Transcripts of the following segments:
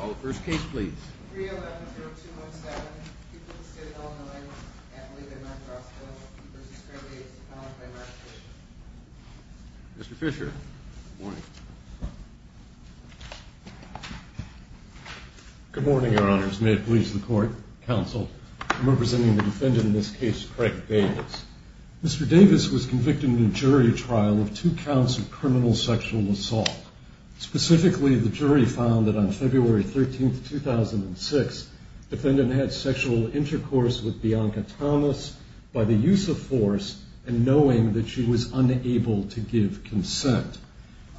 All the first case please. Mr. Fisher. Good morning, Your Honors. May it please the court, counsel, I'm representing the defendant in this case, Craig Davis. Mr. Davis was convicted in a jury trial of two counts of criminal sexual assault. Specifically, the jury found that on February 13, 2006, defendant had sexual intercourse with Bianca Thomas by the use of force and knowing that she was unable to give consent.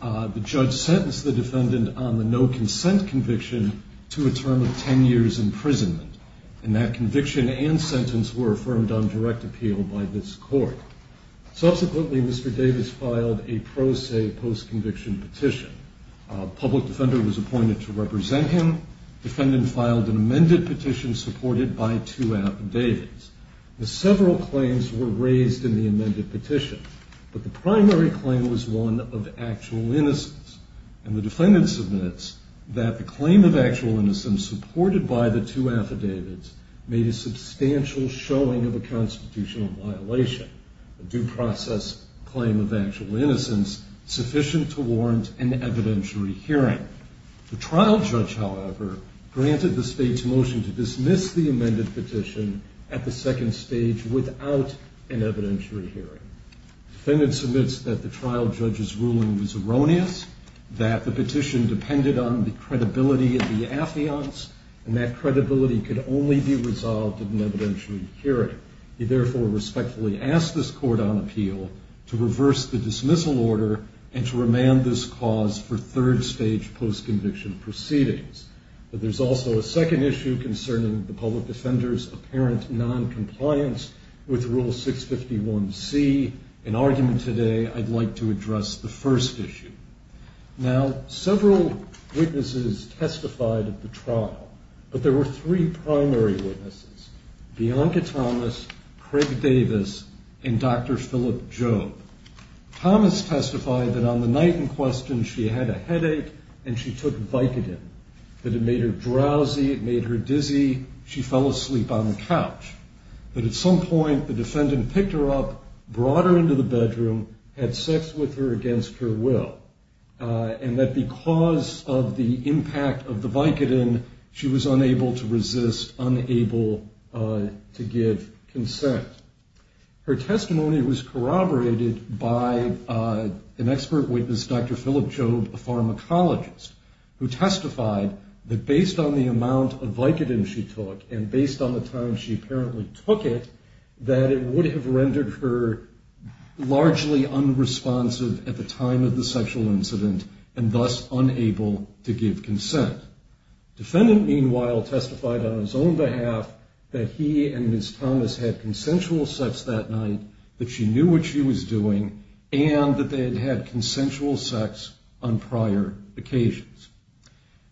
The judge sentenced the defendant on the no consent conviction to a term of 10 years imprisonment. And that conviction and sentence were affirmed on direct appeal by this court. Subsequently, Mr. Davis filed a pro se post conviction petition. A public defender was appointed to represent him. Defendant filed an amended petition supported by two affidavits. Several claims were raised in the amended petition, but the primary claim was one of actual innocence. And the defendant submits that the claim of actual innocence supported by the two affidavits made a substantial showing of a constitutional violation. A due process claim of actual innocence sufficient to warrant an evidentiary hearing. The trial judge, however, granted the state's motion to dismiss the amended petition at the second stage without an evidentiary hearing. Defendant submits that the trial judge's ruling was erroneous, that the petition depended on the credibility of the affiance, and that credibility could only be resolved at an evidentiary hearing. He therefore respectfully asked this court on appeal to reverse the dismissal order and to remand this cause for third stage post conviction proceedings. But there's also a second issue concerning the public defender's apparent noncompliance with Rule 651C. In argument today, I'd like to address the first issue. Now, several witnesses testified at the trial, but there were three primary witnesses, Bianca Thomas, Craig Davis, and Dr. Philip Jobe. Thomas testified that on the night in question she had a headache and she took Vicodin, that it made her drowsy, it made her dizzy, she fell asleep on the couch. But at some point, the defendant picked her up, brought her into the bedroom, had sex with her against her will, and that because of the impact of the Vicodin, she was unable to resist, unable to give consent. Her testimony was corroborated by an expert witness, Dr. Philip Jobe, a pharmacologist, who testified that based on the amount of Vicodin she took, and based on the time she apparently took it, that it would have rendered her largely unresponsive at the time of the sexual incident, and thus unable to give consent. The defendant, meanwhile, testified on his own behalf that he and Ms. Thomas had consensual sex that night, that she knew what she was doing, and that they had had consensual sex on prior occasions.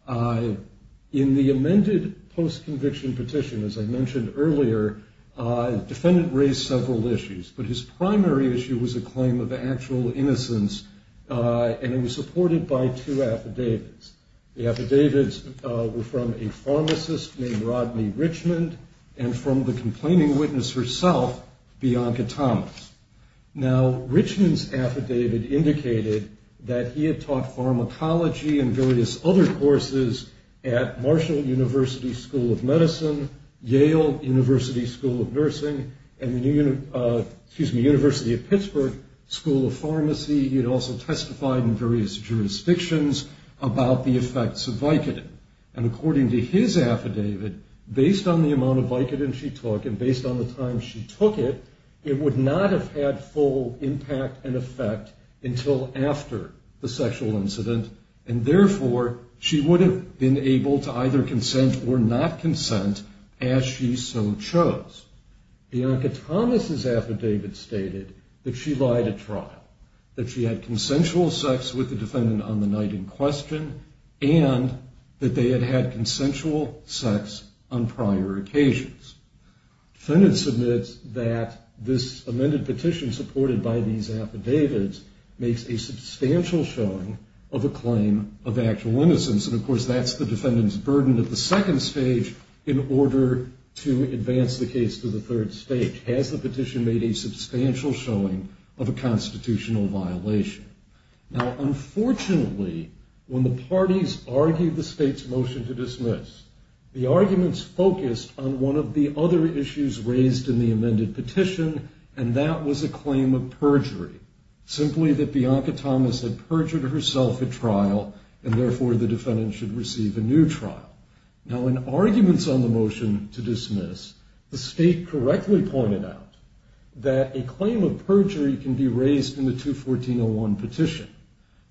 In the amended post-conviction petition, as I mentioned earlier, the defendant raised several issues, but his primary issue was a claim of actual innocence, and it was supported by two affidavits. The affidavits were from a pharmacist named Rodney Richmond, and from the complaining witness herself, Bianca Thomas. Now, Richmond's affidavit indicated that he had taught pharmacology and various other courses at Marshall University School of Medicine, Yale University School of Nursing, and the University of Pittsburgh School of Pharmacy. He had also testified in various jurisdictions about the effects of Vicodin, and according to his affidavit, based on the amount of Vicodin she took, and based on the time she took it, it would not have had full impact and effect until after the sexual incident, and therefore, she would have been able to either consent or not consent as she so chose. Bianca Thomas's affidavit stated that she lied at trial, that she had consensual sex with the defendant on the night in question, and that they had had consensual sex on prior occasions. Defendants submit that this amended petition supported by these affidavits makes a substantial showing of a claim of actual innocence, and of course, that's the defendant's burden at the second stage in order to advance the case to the third stage. Has the petition made a substantial showing of a constitutional violation? Now, unfortunately, when the parties argued the state's motion to dismiss, the arguments focused on one of the other issues raised in the amended petition, and that was a claim of perjury, simply that Bianca Thomas had perjured herself at trial, and therefore, the defendant should receive a new trial. Now, in arguments on the motion to dismiss, the state correctly pointed out that a claim of perjury can be raised in the 214.01 petition,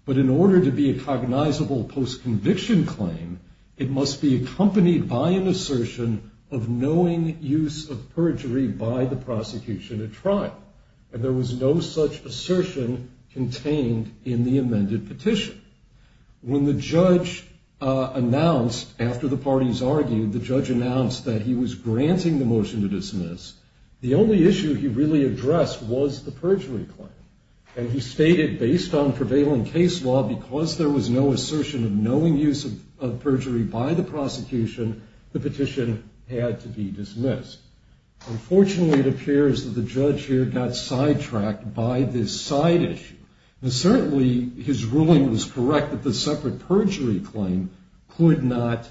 but in order to be a cognizable post-conviction claim, it must be accompanied by an assertion of knowing use of perjury by the prosecution at trial, and there was no such assertion contained in the amended petition. When the judge announced, after the parties argued, the judge announced that he was granting the motion to dismiss, the only issue he really addressed was the perjury claim, and he stated, based on prevailing case law, because there was no assertion of knowing use of perjury by the prosecution, the petition had to be dismissed. Unfortunately, it appears that the judge here got sidetracked by this side issue. Now, certainly, his ruling was correct that the separate perjury claim could not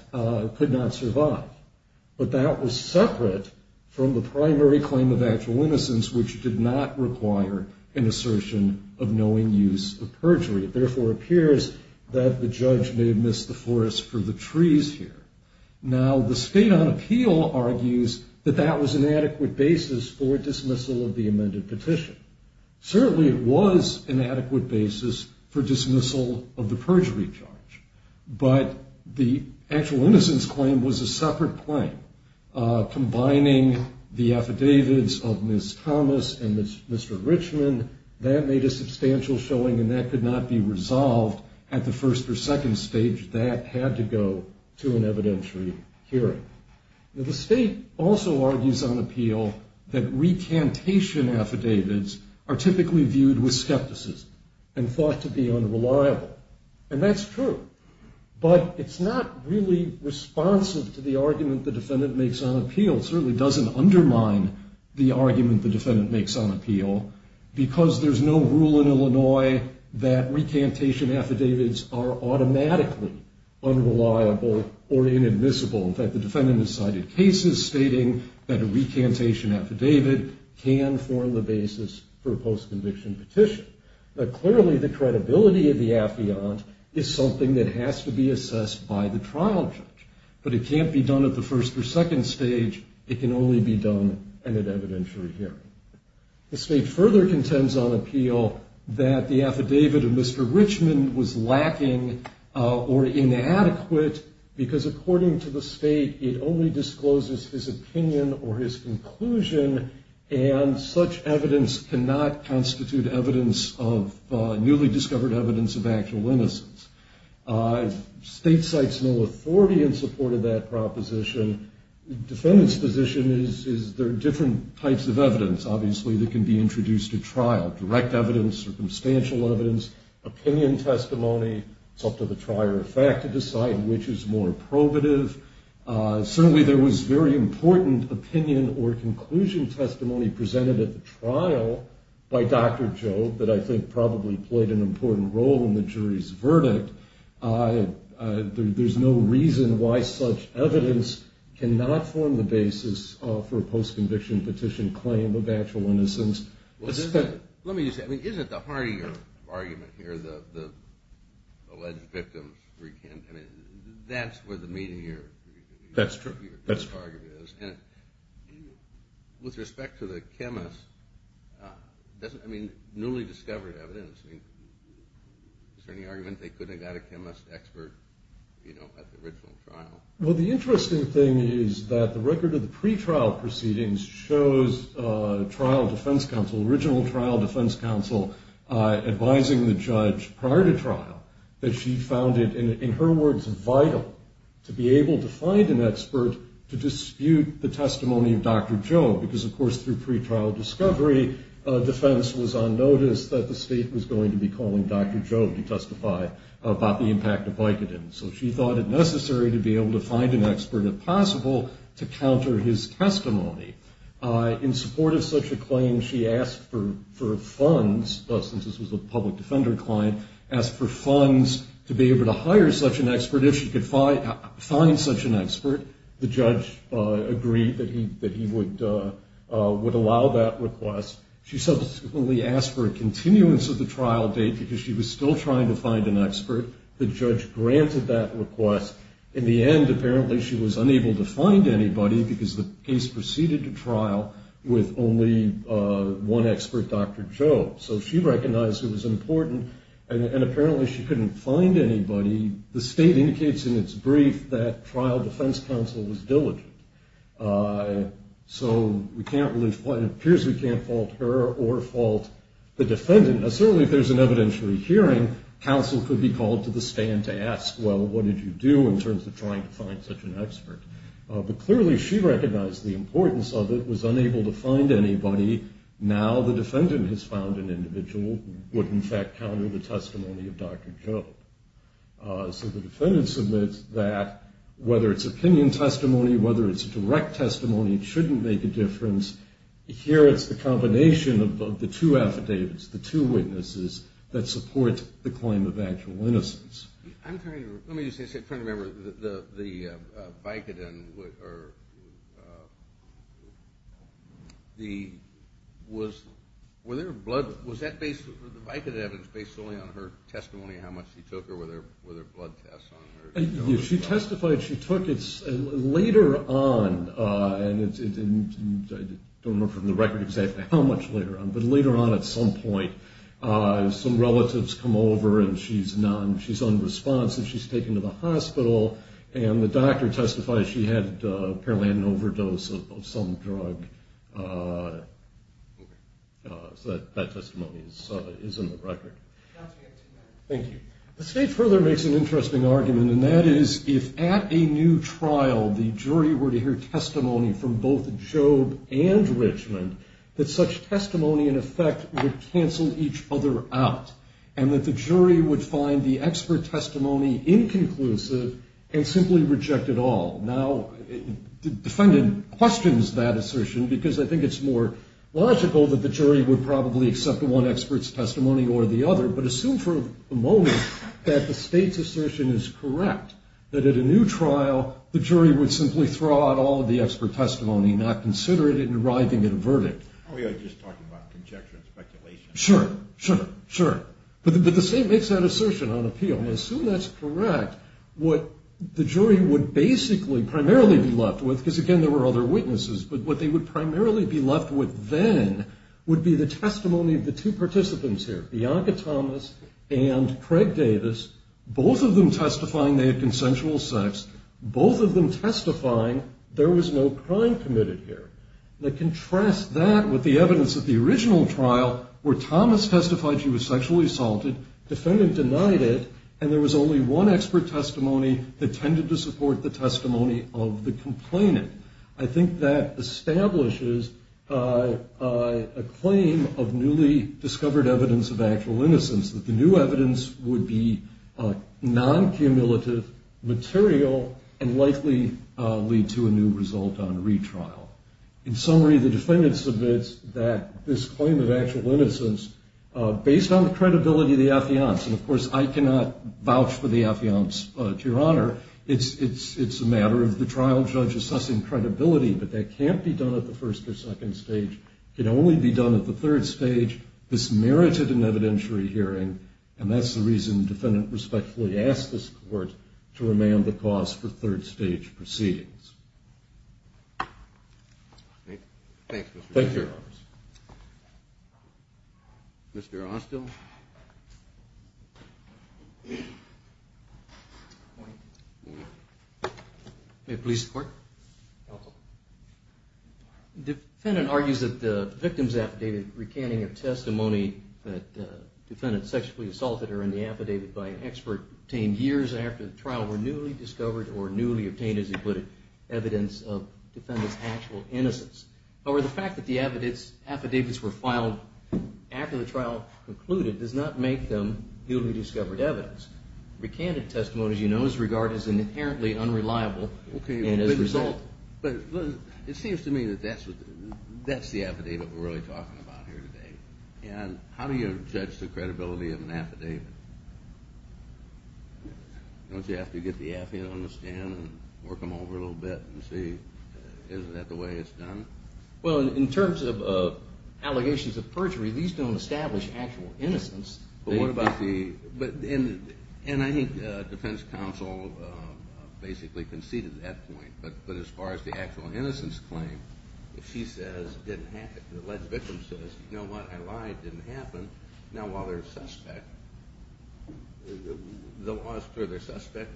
survive, but that was separate from the primary claim of actual innocence, which did not require an assertion of knowing use of perjury. It therefore appears that the judge may have missed the forest for the trees here. Now, the State on Appeal argues that that was an adequate basis for dismissal of the amended petition. Certainly, it was an adequate basis for dismissal of the perjury charge, but the actual innocence claim was a separate claim. Combining the affidavits of Ms. Thomas and Mr. Richmond, that made a substantial showing, and that could not be resolved at the first or second stage. That had to go to an evidentiary hearing. Now, the State also argues on appeal that recantation affidavits are typically viewed with skepticism and thought to be unreliable, and that's true. But it's not really responsive to the argument the defendant makes on appeal. It certainly doesn't undermine the argument the defendant makes on appeal, because there's no rule in Illinois that recantation affidavits are automatically unreliable or inadmissible. In fact, the defendant has cited cases stating that a recantation affidavit can form the basis for a post-conviction petition. But clearly, the credibility of the affiant is something that has to be assessed by the trial judge. But it can't be done at the first or second stage. It can only be done at an evidentiary hearing. The State further contends on appeal that the affidavit of Mr. Richmond was lacking or inadequate, because according to the State, it only discloses his opinion or his conclusion, and such evidence cannot constitute evidence of newly discovered evidence of actual innocence. The State cites no authority in support of that proposition. The defendant's position is there are different types of evidence, obviously, that can be introduced at trial. Direct evidence, circumstantial evidence, opinion testimony. It's up to the trier of fact to decide which is more probative. Certainly, there was very important opinion or conclusion testimony presented at the trial by Dr. Jobe that I think probably played an important role in the jury's verdict. There's no reason why such evidence cannot form the basis for a post-conviction petition claim of actual innocence. Let me just say, I mean, isn't the hardier argument here the alleged victim's pre-contempt? I mean, that's where the meatier argument is. And with respect to the chemist, I mean, newly discovered evidence, is there any argument they couldn't have got a chemist expert, you know, at the original trial? Well, the interesting thing is that the record of the pretrial proceedings shows trial defense counsel, original trial defense counsel advising the judge prior to trial that she found it, in her words, vital to be able to find an expert to dispute the testimony of Dr. Jobe. Because, of course, through pretrial discovery, defense was on notice that the State was going to be calling Dr. Jobe to testify about the impact of Vicodin. So she thought it necessary to be able to find an expert, if possible, to counter his testimony. In support of such a claim, she asked for funds, since this was a public defender client, asked for funds to be able to hire such an expert if she could find such an expert. The judge agreed that he would allow that request. She subsequently asked for a continuance of the trial date because she was still trying to find an expert. The judge granted that request. In the end, apparently, she was unable to find anybody because the case proceeded to trial with only one expert, Dr. Jobe. So she recognized it was important, and apparently she couldn't find anybody. The State indicates in its brief that trial defense counsel was diligent. So it appears we can't fault her or fault the defendant. Certainly, if there's an evidentiary hearing, counsel could be called to the stand to ask, well, what did you do in terms of trying to find such an expert? But clearly she recognized the importance of it, was unable to find anybody. Now the defendant has found an individual who would, in fact, counter the testimony of Dr. Jobe. So the defendant submits that, whether it's opinion testimony, whether it's direct testimony, it shouldn't make a difference. Here it's the combination of the two affidavits, the two witnesses that support the claim of actual innocence. Let me just say, I'm trying to remember, the Vicodin, were there blood, was that based, the Vicodin evidence based solely on her testimony, how much she took, or were there blood tests on her? She testified she took, it's later on, and I don't know from the record exactly how much later on, but later on at some point some relatives come over and she's unresponsive, she's taken to the hospital, and the doctor testified she had apparently an overdose of some drug. So that testimony is in the record. Thank you. The state further makes an interesting argument, and that is if at a new trial the jury were to hear testimony from both Jobe and Richmond, that such testimony in effect would cancel each other out, and that the jury would find the expert testimony inconclusive and simply reject it all. Now the defendant questions that assertion because I think it's more logical that the jury would probably accept one expert's testimony or the other, but assume for a moment that the state's assertion is correct, that at a new trial the jury would simply throw out all of the expert testimony, not consider it in arriving at a verdict. Oh, yeah, just talking about conjecture and speculation. Sure, sure, sure. But the state makes that assertion on appeal, and I assume that's correct. What the jury would basically primarily be left with, because again there were other witnesses, but what they would primarily be left with then would be the testimony of the two participants here, Bianca Thomas and Craig Davis, both of them testifying they had consensual sex, both of them testifying there was no crime committed here. Now contrast that with the evidence at the original trial where Thomas testified she was sexually assaulted, the defendant denied it, and there was only one expert testimony that tended to support the testimony of the complainant. I think that establishes a claim of newly discovered evidence of actual innocence, that the new evidence would be non-cumulative, material, and likely lead to a new result on retrial. In summary, the defendant submits that this claim of actual innocence, based on the credibility of the affiance, and of course I cannot vouch for the affiance, Your Honor, it's a matter of the trial judge assessing credibility, but that can't be done at the first or second stage, it can only be done at the third stage, this merited an evidentiary hearing, and that's the reason the defendant respectfully asked this court to remand the cause for third stage proceedings. Thank you. Mr. Ostell. Good morning. Good morning. May it please the Court. Defendant argues that the victim's affidavit recanting a testimony that the defendant sexually assaulted her in the affidavit by an expert obtained years after the trial were newly discovered, or newly obtained as he put it, evidence of defendant's actual innocence. However, the fact that the affidavits were filed after the trial concluded does not make them newly discovered evidence. Recanted testimony, as you know, is regarded as inherently unreliable, and as a result… But it seems to me that that's the affidavit we're really talking about here today. And how do you judge the credibility of an affidavit? Don't you have to get the affidavit on the stand and work them over a little bit and see, is that the way it's done? Well, in terms of allegations of perjury, these don't establish actual innocence. And I think defense counsel basically conceded that point. But as far as the actual innocence claim, if she says it didn't happen, the alleged victim says, you know what, I lied, it didn't happen, now while they're a suspect, the law is clear they're a suspect,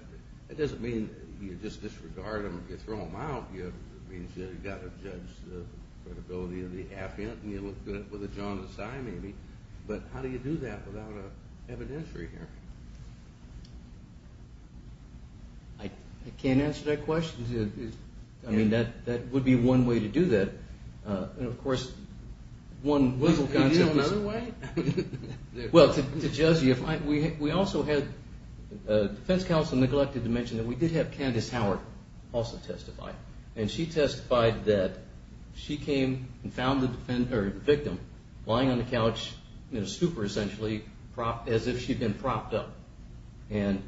it doesn't mean you just disregard them or you throw them out. It means you've got to judge the credibility of the affidavit and you look at it with a jaundiced eye maybe. But how do you do that without an evidentiary hearing? I can't answer that question. I mean, that would be one way to do that. And of course, one little concept is... Could you do it another way? Well, to judge you, we also had defense counsel neglected to mention that we did have Candace Howard also testify. And she testified that she came and found the victim lying on the couch in a stupor essentially, as if she'd been propped up. And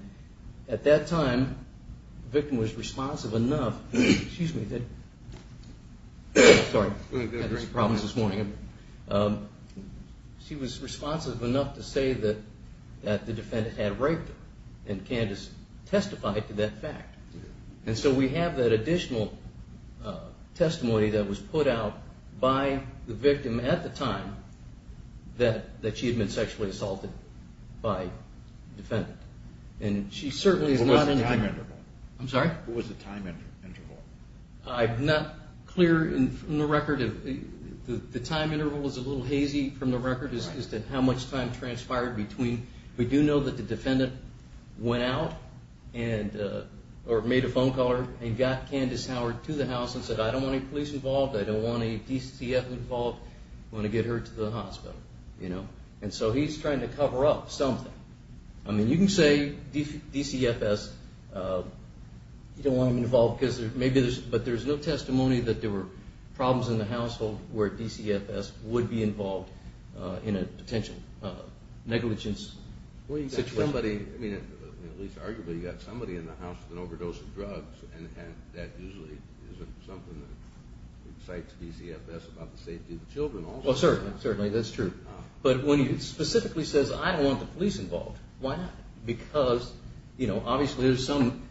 at that time, the victim was responsive enough... Sorry, had some problems this morning. She was responsive enough to say that the defendant had raped her and Candace testified to that fact. And so we have that additional testimony that was put out by the victim at the time that she had been sexually assaulted by the defendant. And she certainly is not... What was the time interval? I'm sorry? What was the time interval? I'm not clear from the record. The time interval is a little hazy from the record as to how much time transpired between... We do know that the defendant went out or made a phone call and got Candace Howard to the house and said, I don't want any police involved. I don't want any DCF involved. I want to get her to the hospital. And so he's trying to cover up something. I mean, you can say DCFS, you don't want them involved because maybe there's... But there's no testimony that there were problems in the household where DCFS would be involved in a potential negligence situation. Well, you've got somebody, I mean, at least arguably, you've got somebody in the house with an overdose of drugs, and that usually isn't something that excites DCFS about the safety of the children also. Well, certainly. That's true. But when he specifically says, I don't want the police involved, why not? Because, you know, obviously there's some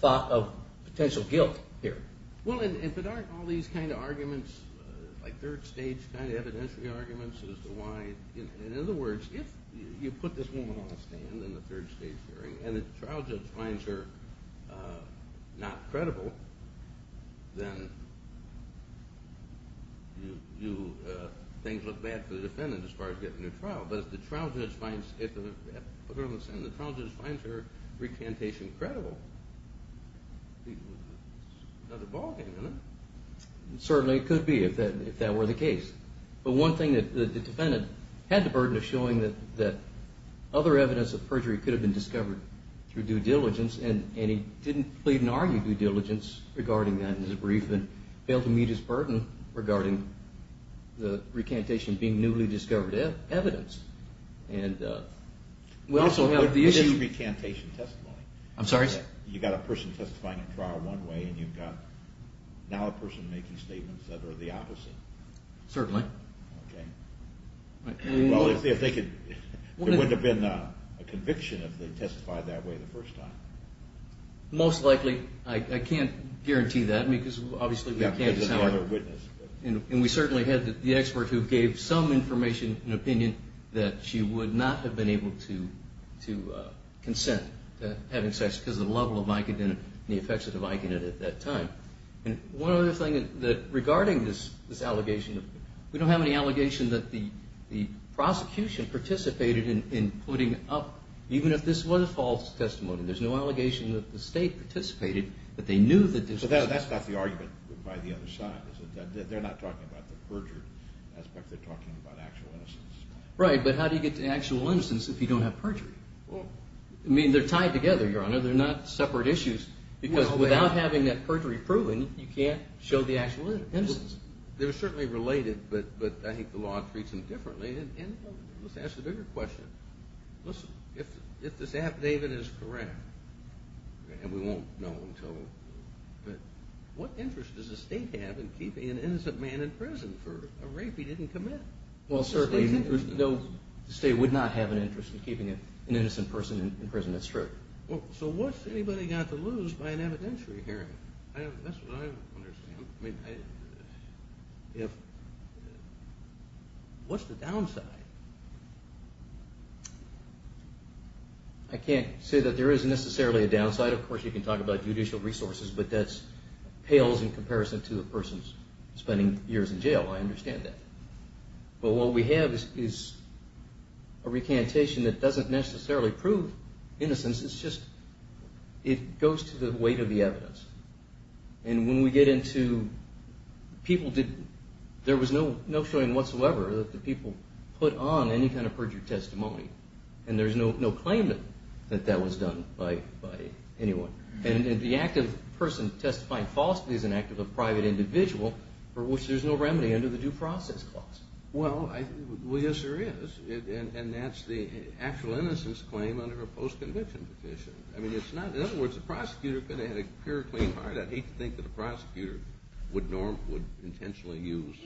thought of potential guilt here. Well, if it aren't all these kind of arguments, like third stage kind of evidentiary arguments as to why... In other words, if you put this woman on a stand in the third stage hearing and the trial judge finds her not credible, then things look bad for the defendant as far as getting her trial. But if the trial judge finds her recantation credible, there's another ballgame in it. Certainly it could be, if that were the case. But one thing that the defendant had the burden of showing that other evidence of perjury could have been discovered through due diligence, and he didn't plead and argue due diligence regarding that in his brief, and failed to meet his burden regarding the recantation being newly discovered evidence. And we also have the issue... This is recantation testimony. I'm sorry, sir? You've got a person testifying in trial one way, and you've got now a person making statements that are the opposite. Certainly. Okay. Well, if they could... There wouldn't have been a conviction if they testified that way the first time. Most likely. I can't guarantee that because obviously we can't... There's another witness. And we certainly had the expert who gave some information and opinion that she would not have been able to consent to having sex because of the level of vicodin and the effects of the vicodin at that time. And one other thing that regarding this allegation, we don't have any allegation that the prosecution participated in putting up... Even if this was a false testimony, there's no allegation that the state participated, that they knew that this... So that's not the argument by the other side, is it? They're not talking about the perjury aspect. They're talking about actual innocence. Right, but how do you get to actual innocence if you don't have perjury? Well... I mean, they're tied together, Your Honor. They're not separate issues because without having that perjury proven, you can't show the actual innocence. They're certainly related, but I think the law treats them differently. And let's ask a bigger question. Listen, if this affidavit is correct, and we won't know until... But what interest does the state have in keeping an innocent man in prison for a rape he didn't commit? Well, certainly the state would not have an interest in keeping an innocent person in prison, that's true. Well, so what's anybody got to lose by an evidentiary hearing? That's what I'm wondering. I mean, if... What's the downside? I can't say that there is necessarily a downside. Of course, you can talk about judicial resources, but that pales in comparison to a person spending years in jail. I understand that. But what we have is a recantation that doesn't necessarily prove innocence. It's just... It goes to the weight of the evidence. And when we get into... People did... There was no showing whatsoever that the people put on any kind of perjury testimony. And there's no claim that that was done by anyone. And the act of the person testifying falsely is an act of a private individual for which there's no remedy under the Due Process Clause. Well, yes, there is. And that's the actual innocence claim under a post-conviction petition. I mean, it's not... In other words, the prosecutor could have had a pure, clean heart. I'd hate to think that the prosecutor would intentionally use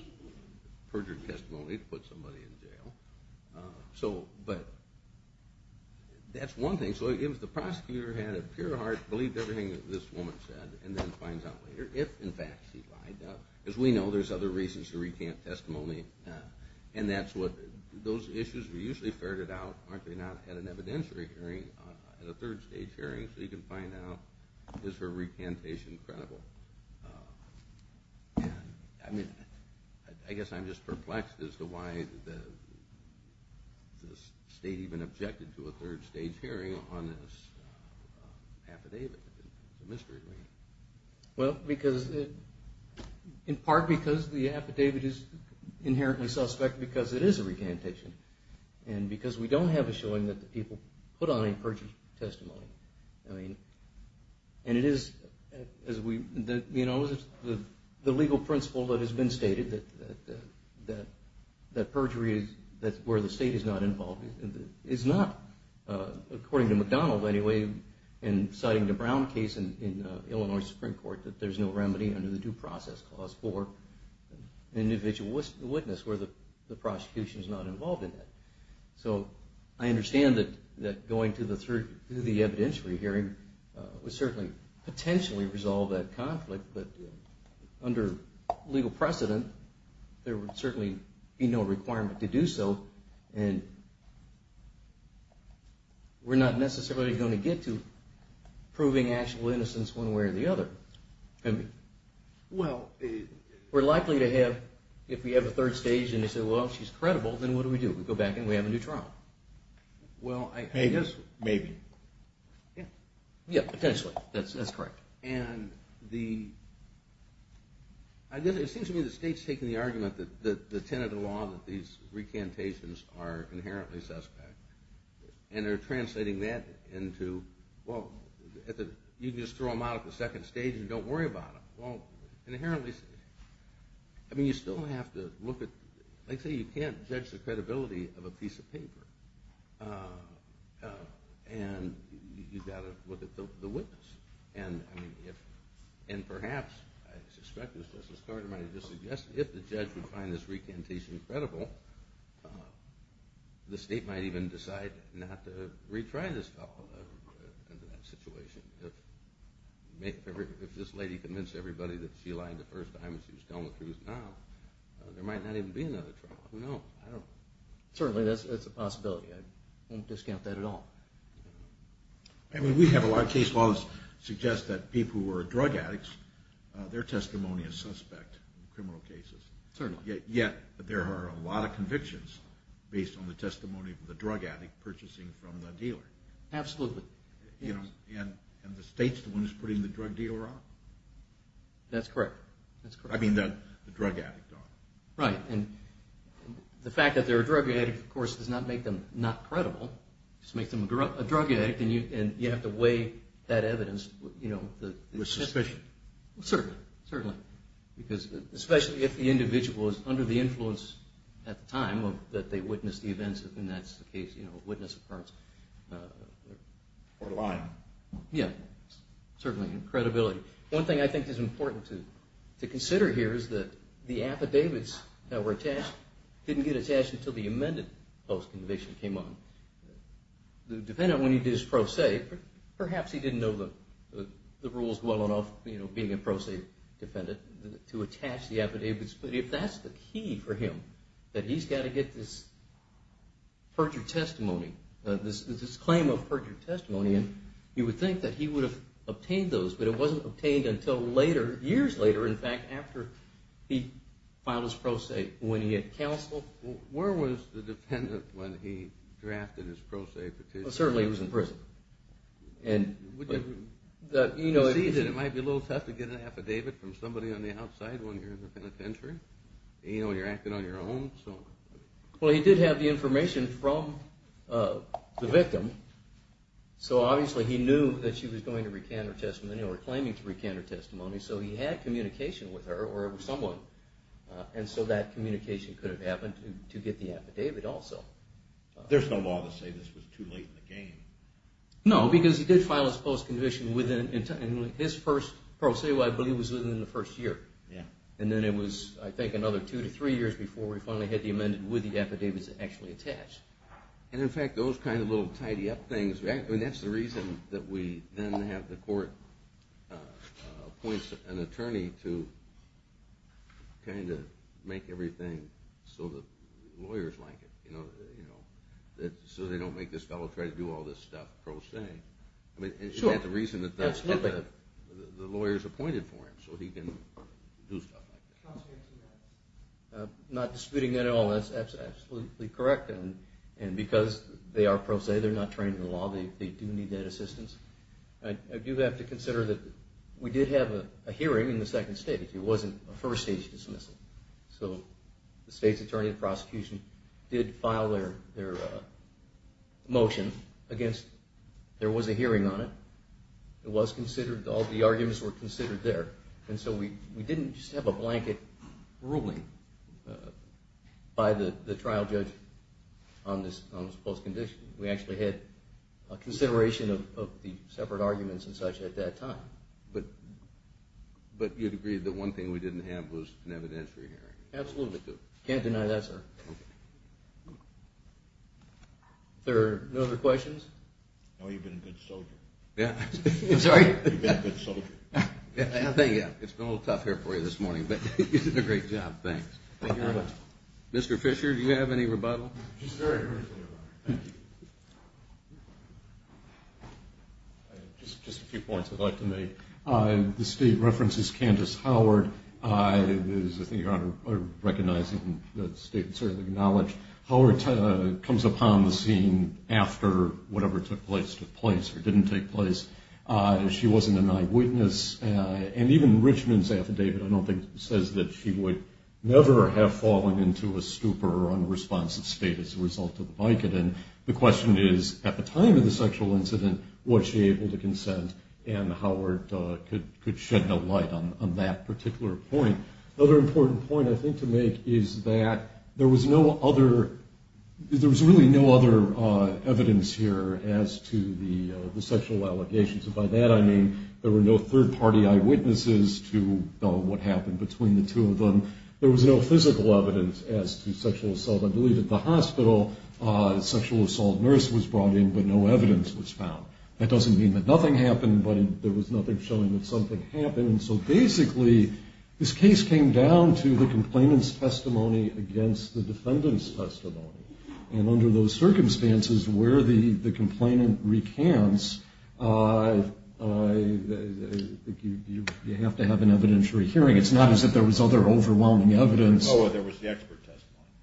perjury testimony to put somebody in jail. So, but... That's one thing. So if the prosecutor had a pure heart, believed everything that this woman said, and then finds out later if, in fact, she lied. Now, as we know, there's other reasons to recant testimony. And that's what... Those issues, we usually ferret it out, aren't they, now, at an evidentiary hearing, at a third-stage hearing, so you can find out, is her recantation credible? And, I mean, I guess I'm just perplexed as to why the state even objected to a third-stage hearing on this affidavit. It's a mystery to me. Well, because... In part because the affidavit is inherently suspect, because it is a recantation. And because we don't have a showing that the people put on a perjury testimony. I mean... And it is, as we... You know, the legal principle that has been stated, that perjury is where the state is not involved, is not, according to McDonald, anyway, in citing the Brown case in Illinois Supreme Court, that there's no remedy under the Due Process Clause for an individual witness where the prosecution is not involved in that. So, I understand that going to the evidentiary hearing would certainly potentially resolve that conflict, but under legal precedent, there would certainly be no requirement to do so, and we're not necessarily going to get to proving actual innocence one way or the other. I mean, well, we're likely to have, if we have a third stage, and they say, well, she's credible, then what do we do? We go back and we have a new trial. Well, I guess... Maybe. Yeah. Yeah, potentially. That's correct. And the... It seems to me the state's taking the argument that the tenet of the law, that these recantations are inherently suspect, and they're translating that into, well, you can just throw them out at the second stage and don't worry about them. Well, inherently... I mean, you still have to look at... Like, say, you can't judge the credibility of a piece of paper, and you've got to look at the witness. And, I mean, if... And perhaps, I suspect as Justice Carter might have just suggested, if the judge would find this recantation credible, the state might even decide not to retry this stuff under that situation. If this lady convinced everybody that she lied the first time and she was telling the truth now, there might not even be another trial. Who knows? Certainly, that's a possibility. I wouldn't discount that at all. I mean, we have a lot of case laws that suggest that people who are drug addicts, their testimony is suspect in criminal cases. Certainly. Yet, there are a lot of convictions based on the testimony of the drug addict purchasing from the dealer. Absolutely. And the state's the one who's putting the drug dealer out? That's correct. I mean, the drug addict. Right. And the fact that they're a drug addict, of course, does not make them not credible. It just makes them a drug addict, and you have to weigh that evidence. With suspicion. Certainly. Certainly. Because, especially if the individual is under the influence at the time that they witnessed the events, and that's the case, you know, witness occurrence. Or lying. Yeah. Certainly. Credibility. One thing I think is important to consider here is that the affidavits that were attached didn't get attached until the amended post-conviction came on. The defendant, when he did his pro se, perhaps he didn't know the rules well enough, you know, being a pro se defendant, to attach the affidavits. But if that's the key for him, that he's got to get this perjured testimony, this claim of perjured testimony, you would think that he would have obtained those, but it wasn't obtained until later, years later, in fact, after he filed his pro se, when he had counseled. Where was the defendant when he drafted his pro se petition? Well, certainly he was in prison. Would you see that it might be a little tough to get an affidavit from somebody on the outside when you're in the penitentiary? You know, when you're acting on your own? Well, he did have the information from the victim, so obviously he knew that she was going to recant her testimony, or claiming to recant her testimony, so he had communication with her, or with someone, and so that communication could have happened to get the affidavit also. There's no law to say this was too late in the game. No, because he did file his post-conviction within his first pro se, which I believe was within the first year, and then it was, I think, another two to three years before we finally had the amendment with the affidavits actually attached. And in fact, those kind of little tidy-up things, that's the reason that we then have the court appoint an attorney to kind of make everything so that lawyers like it, you know, so they don't make this fellow try to do all this stuff pro se. I mean, is that the reason that the lawyers appointed for him, so he can do stuff like that? Not disputing that at all, that's absolutely correct, and because they are pro se, they're not trained in the law, they do need that assistance. I do have to consider that we did have a hearing in the second stage, it wasn't a first-stage dismissal, so the state's attorney and prosecution did file their motion against, there was a hearing on it, it was considered, all the arguments were considered there, and so we didn't just have a blanket ruling by the trial judge on this post-condition, we actually had a consideration of the separate arguments and such at that time. But you'd agree that one thing we didn't have was an evidentiary hearing? Absolutely. Can't deny that, sir. Okay. Are there no other questions? No, you've been a good soldier. Yeah, I'm sorry? You've been a good soldier. Thank you, it's been a little tough here for you this morning, but you did a great job, thanks. Thank you very much. Mr. Fisher, do you have any rebuttal? Just a few points I'd like to make. The state references Candace Howard, recognizing that the state certainly acknowledged Howard comes upon the scene after whatever took place or didn't take place. She wasn't an eyewitness, and even Richmond's affidavit, I don't think, says that she would never have fallen into a stupor or unresponsive state as a result of the Vicodin. The question is, at the time of the sexual incident, was she able to consent, and Howard could shed no light on that particular point. Another important point I think to make is that there was really no other evidence here as to the sexual allegations. By that I mean there were no third-party eyewitnesses to what happened between the two of them. There was no physical evidence as to sexual assault. I believe at the hospital a sexual assault nurse was brought in, but no evidence was found. That doesn't mean that nothing happened, but there was nothing showing that something happened. So basically this case came down to the complainant's testimony against the defendant's testimony. And under those circumstances where the complainant recants, you have to have an evidentiary hearing. It's not as if there was other overwhelming evidence. Oh, there was the expert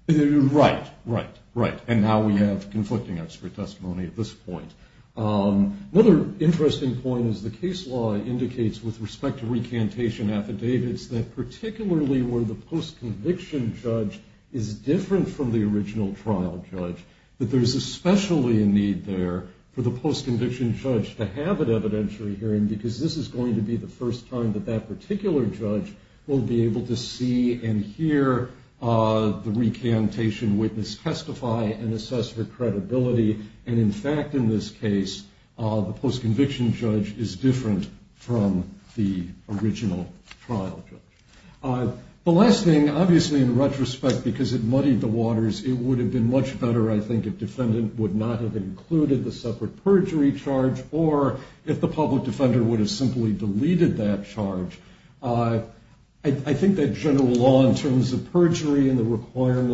testimony. Right, right, right. And now we have conflicting expert testimony at this point. Another interesting point is the case law indicates with respect to recantation affidavits that particularly where the post-conviction judge is different from the original trial judge, that there's especially a need there for the post-conviction judge to have an evidentiary hearing because this is going to be the first time that that particular judge will be able to see and hear the recantation witness testify and assess her credibility. And in fact, in this case, the post-conviction judge is different from the original trial judge. The last thing, obviously in retrospect, because it muddied the waters, it would have been much better, I think, if defendant would not have included the separate perjury charge or if the public defender would have simply deleted that charge.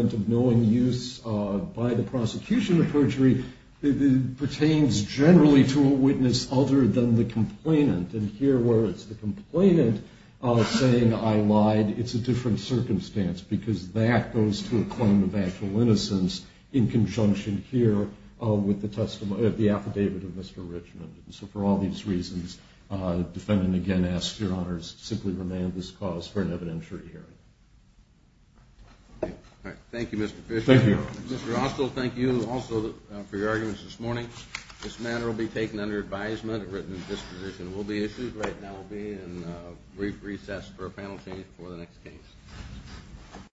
of knowing use by the prosecution of perjury pertains generally to a witness other than the complainant. And here where it's the complainant saying I lied, it's a different circumstance because that goes to a claim of actual innocence in conjunction here with the affidavit of Mr. Richmond. So for all these reasons, the defendant, again, asks Your Honors to simply remand this cause for an evidentiary hearing. Thank you, Mr. Fisher. Thank you. Mr. Roscoe, thank you also for your arguments this morning. This matter will be taken under advisement and written disposition. There will be issues. Right now we'll be in a brief recess for a panel change before the next case.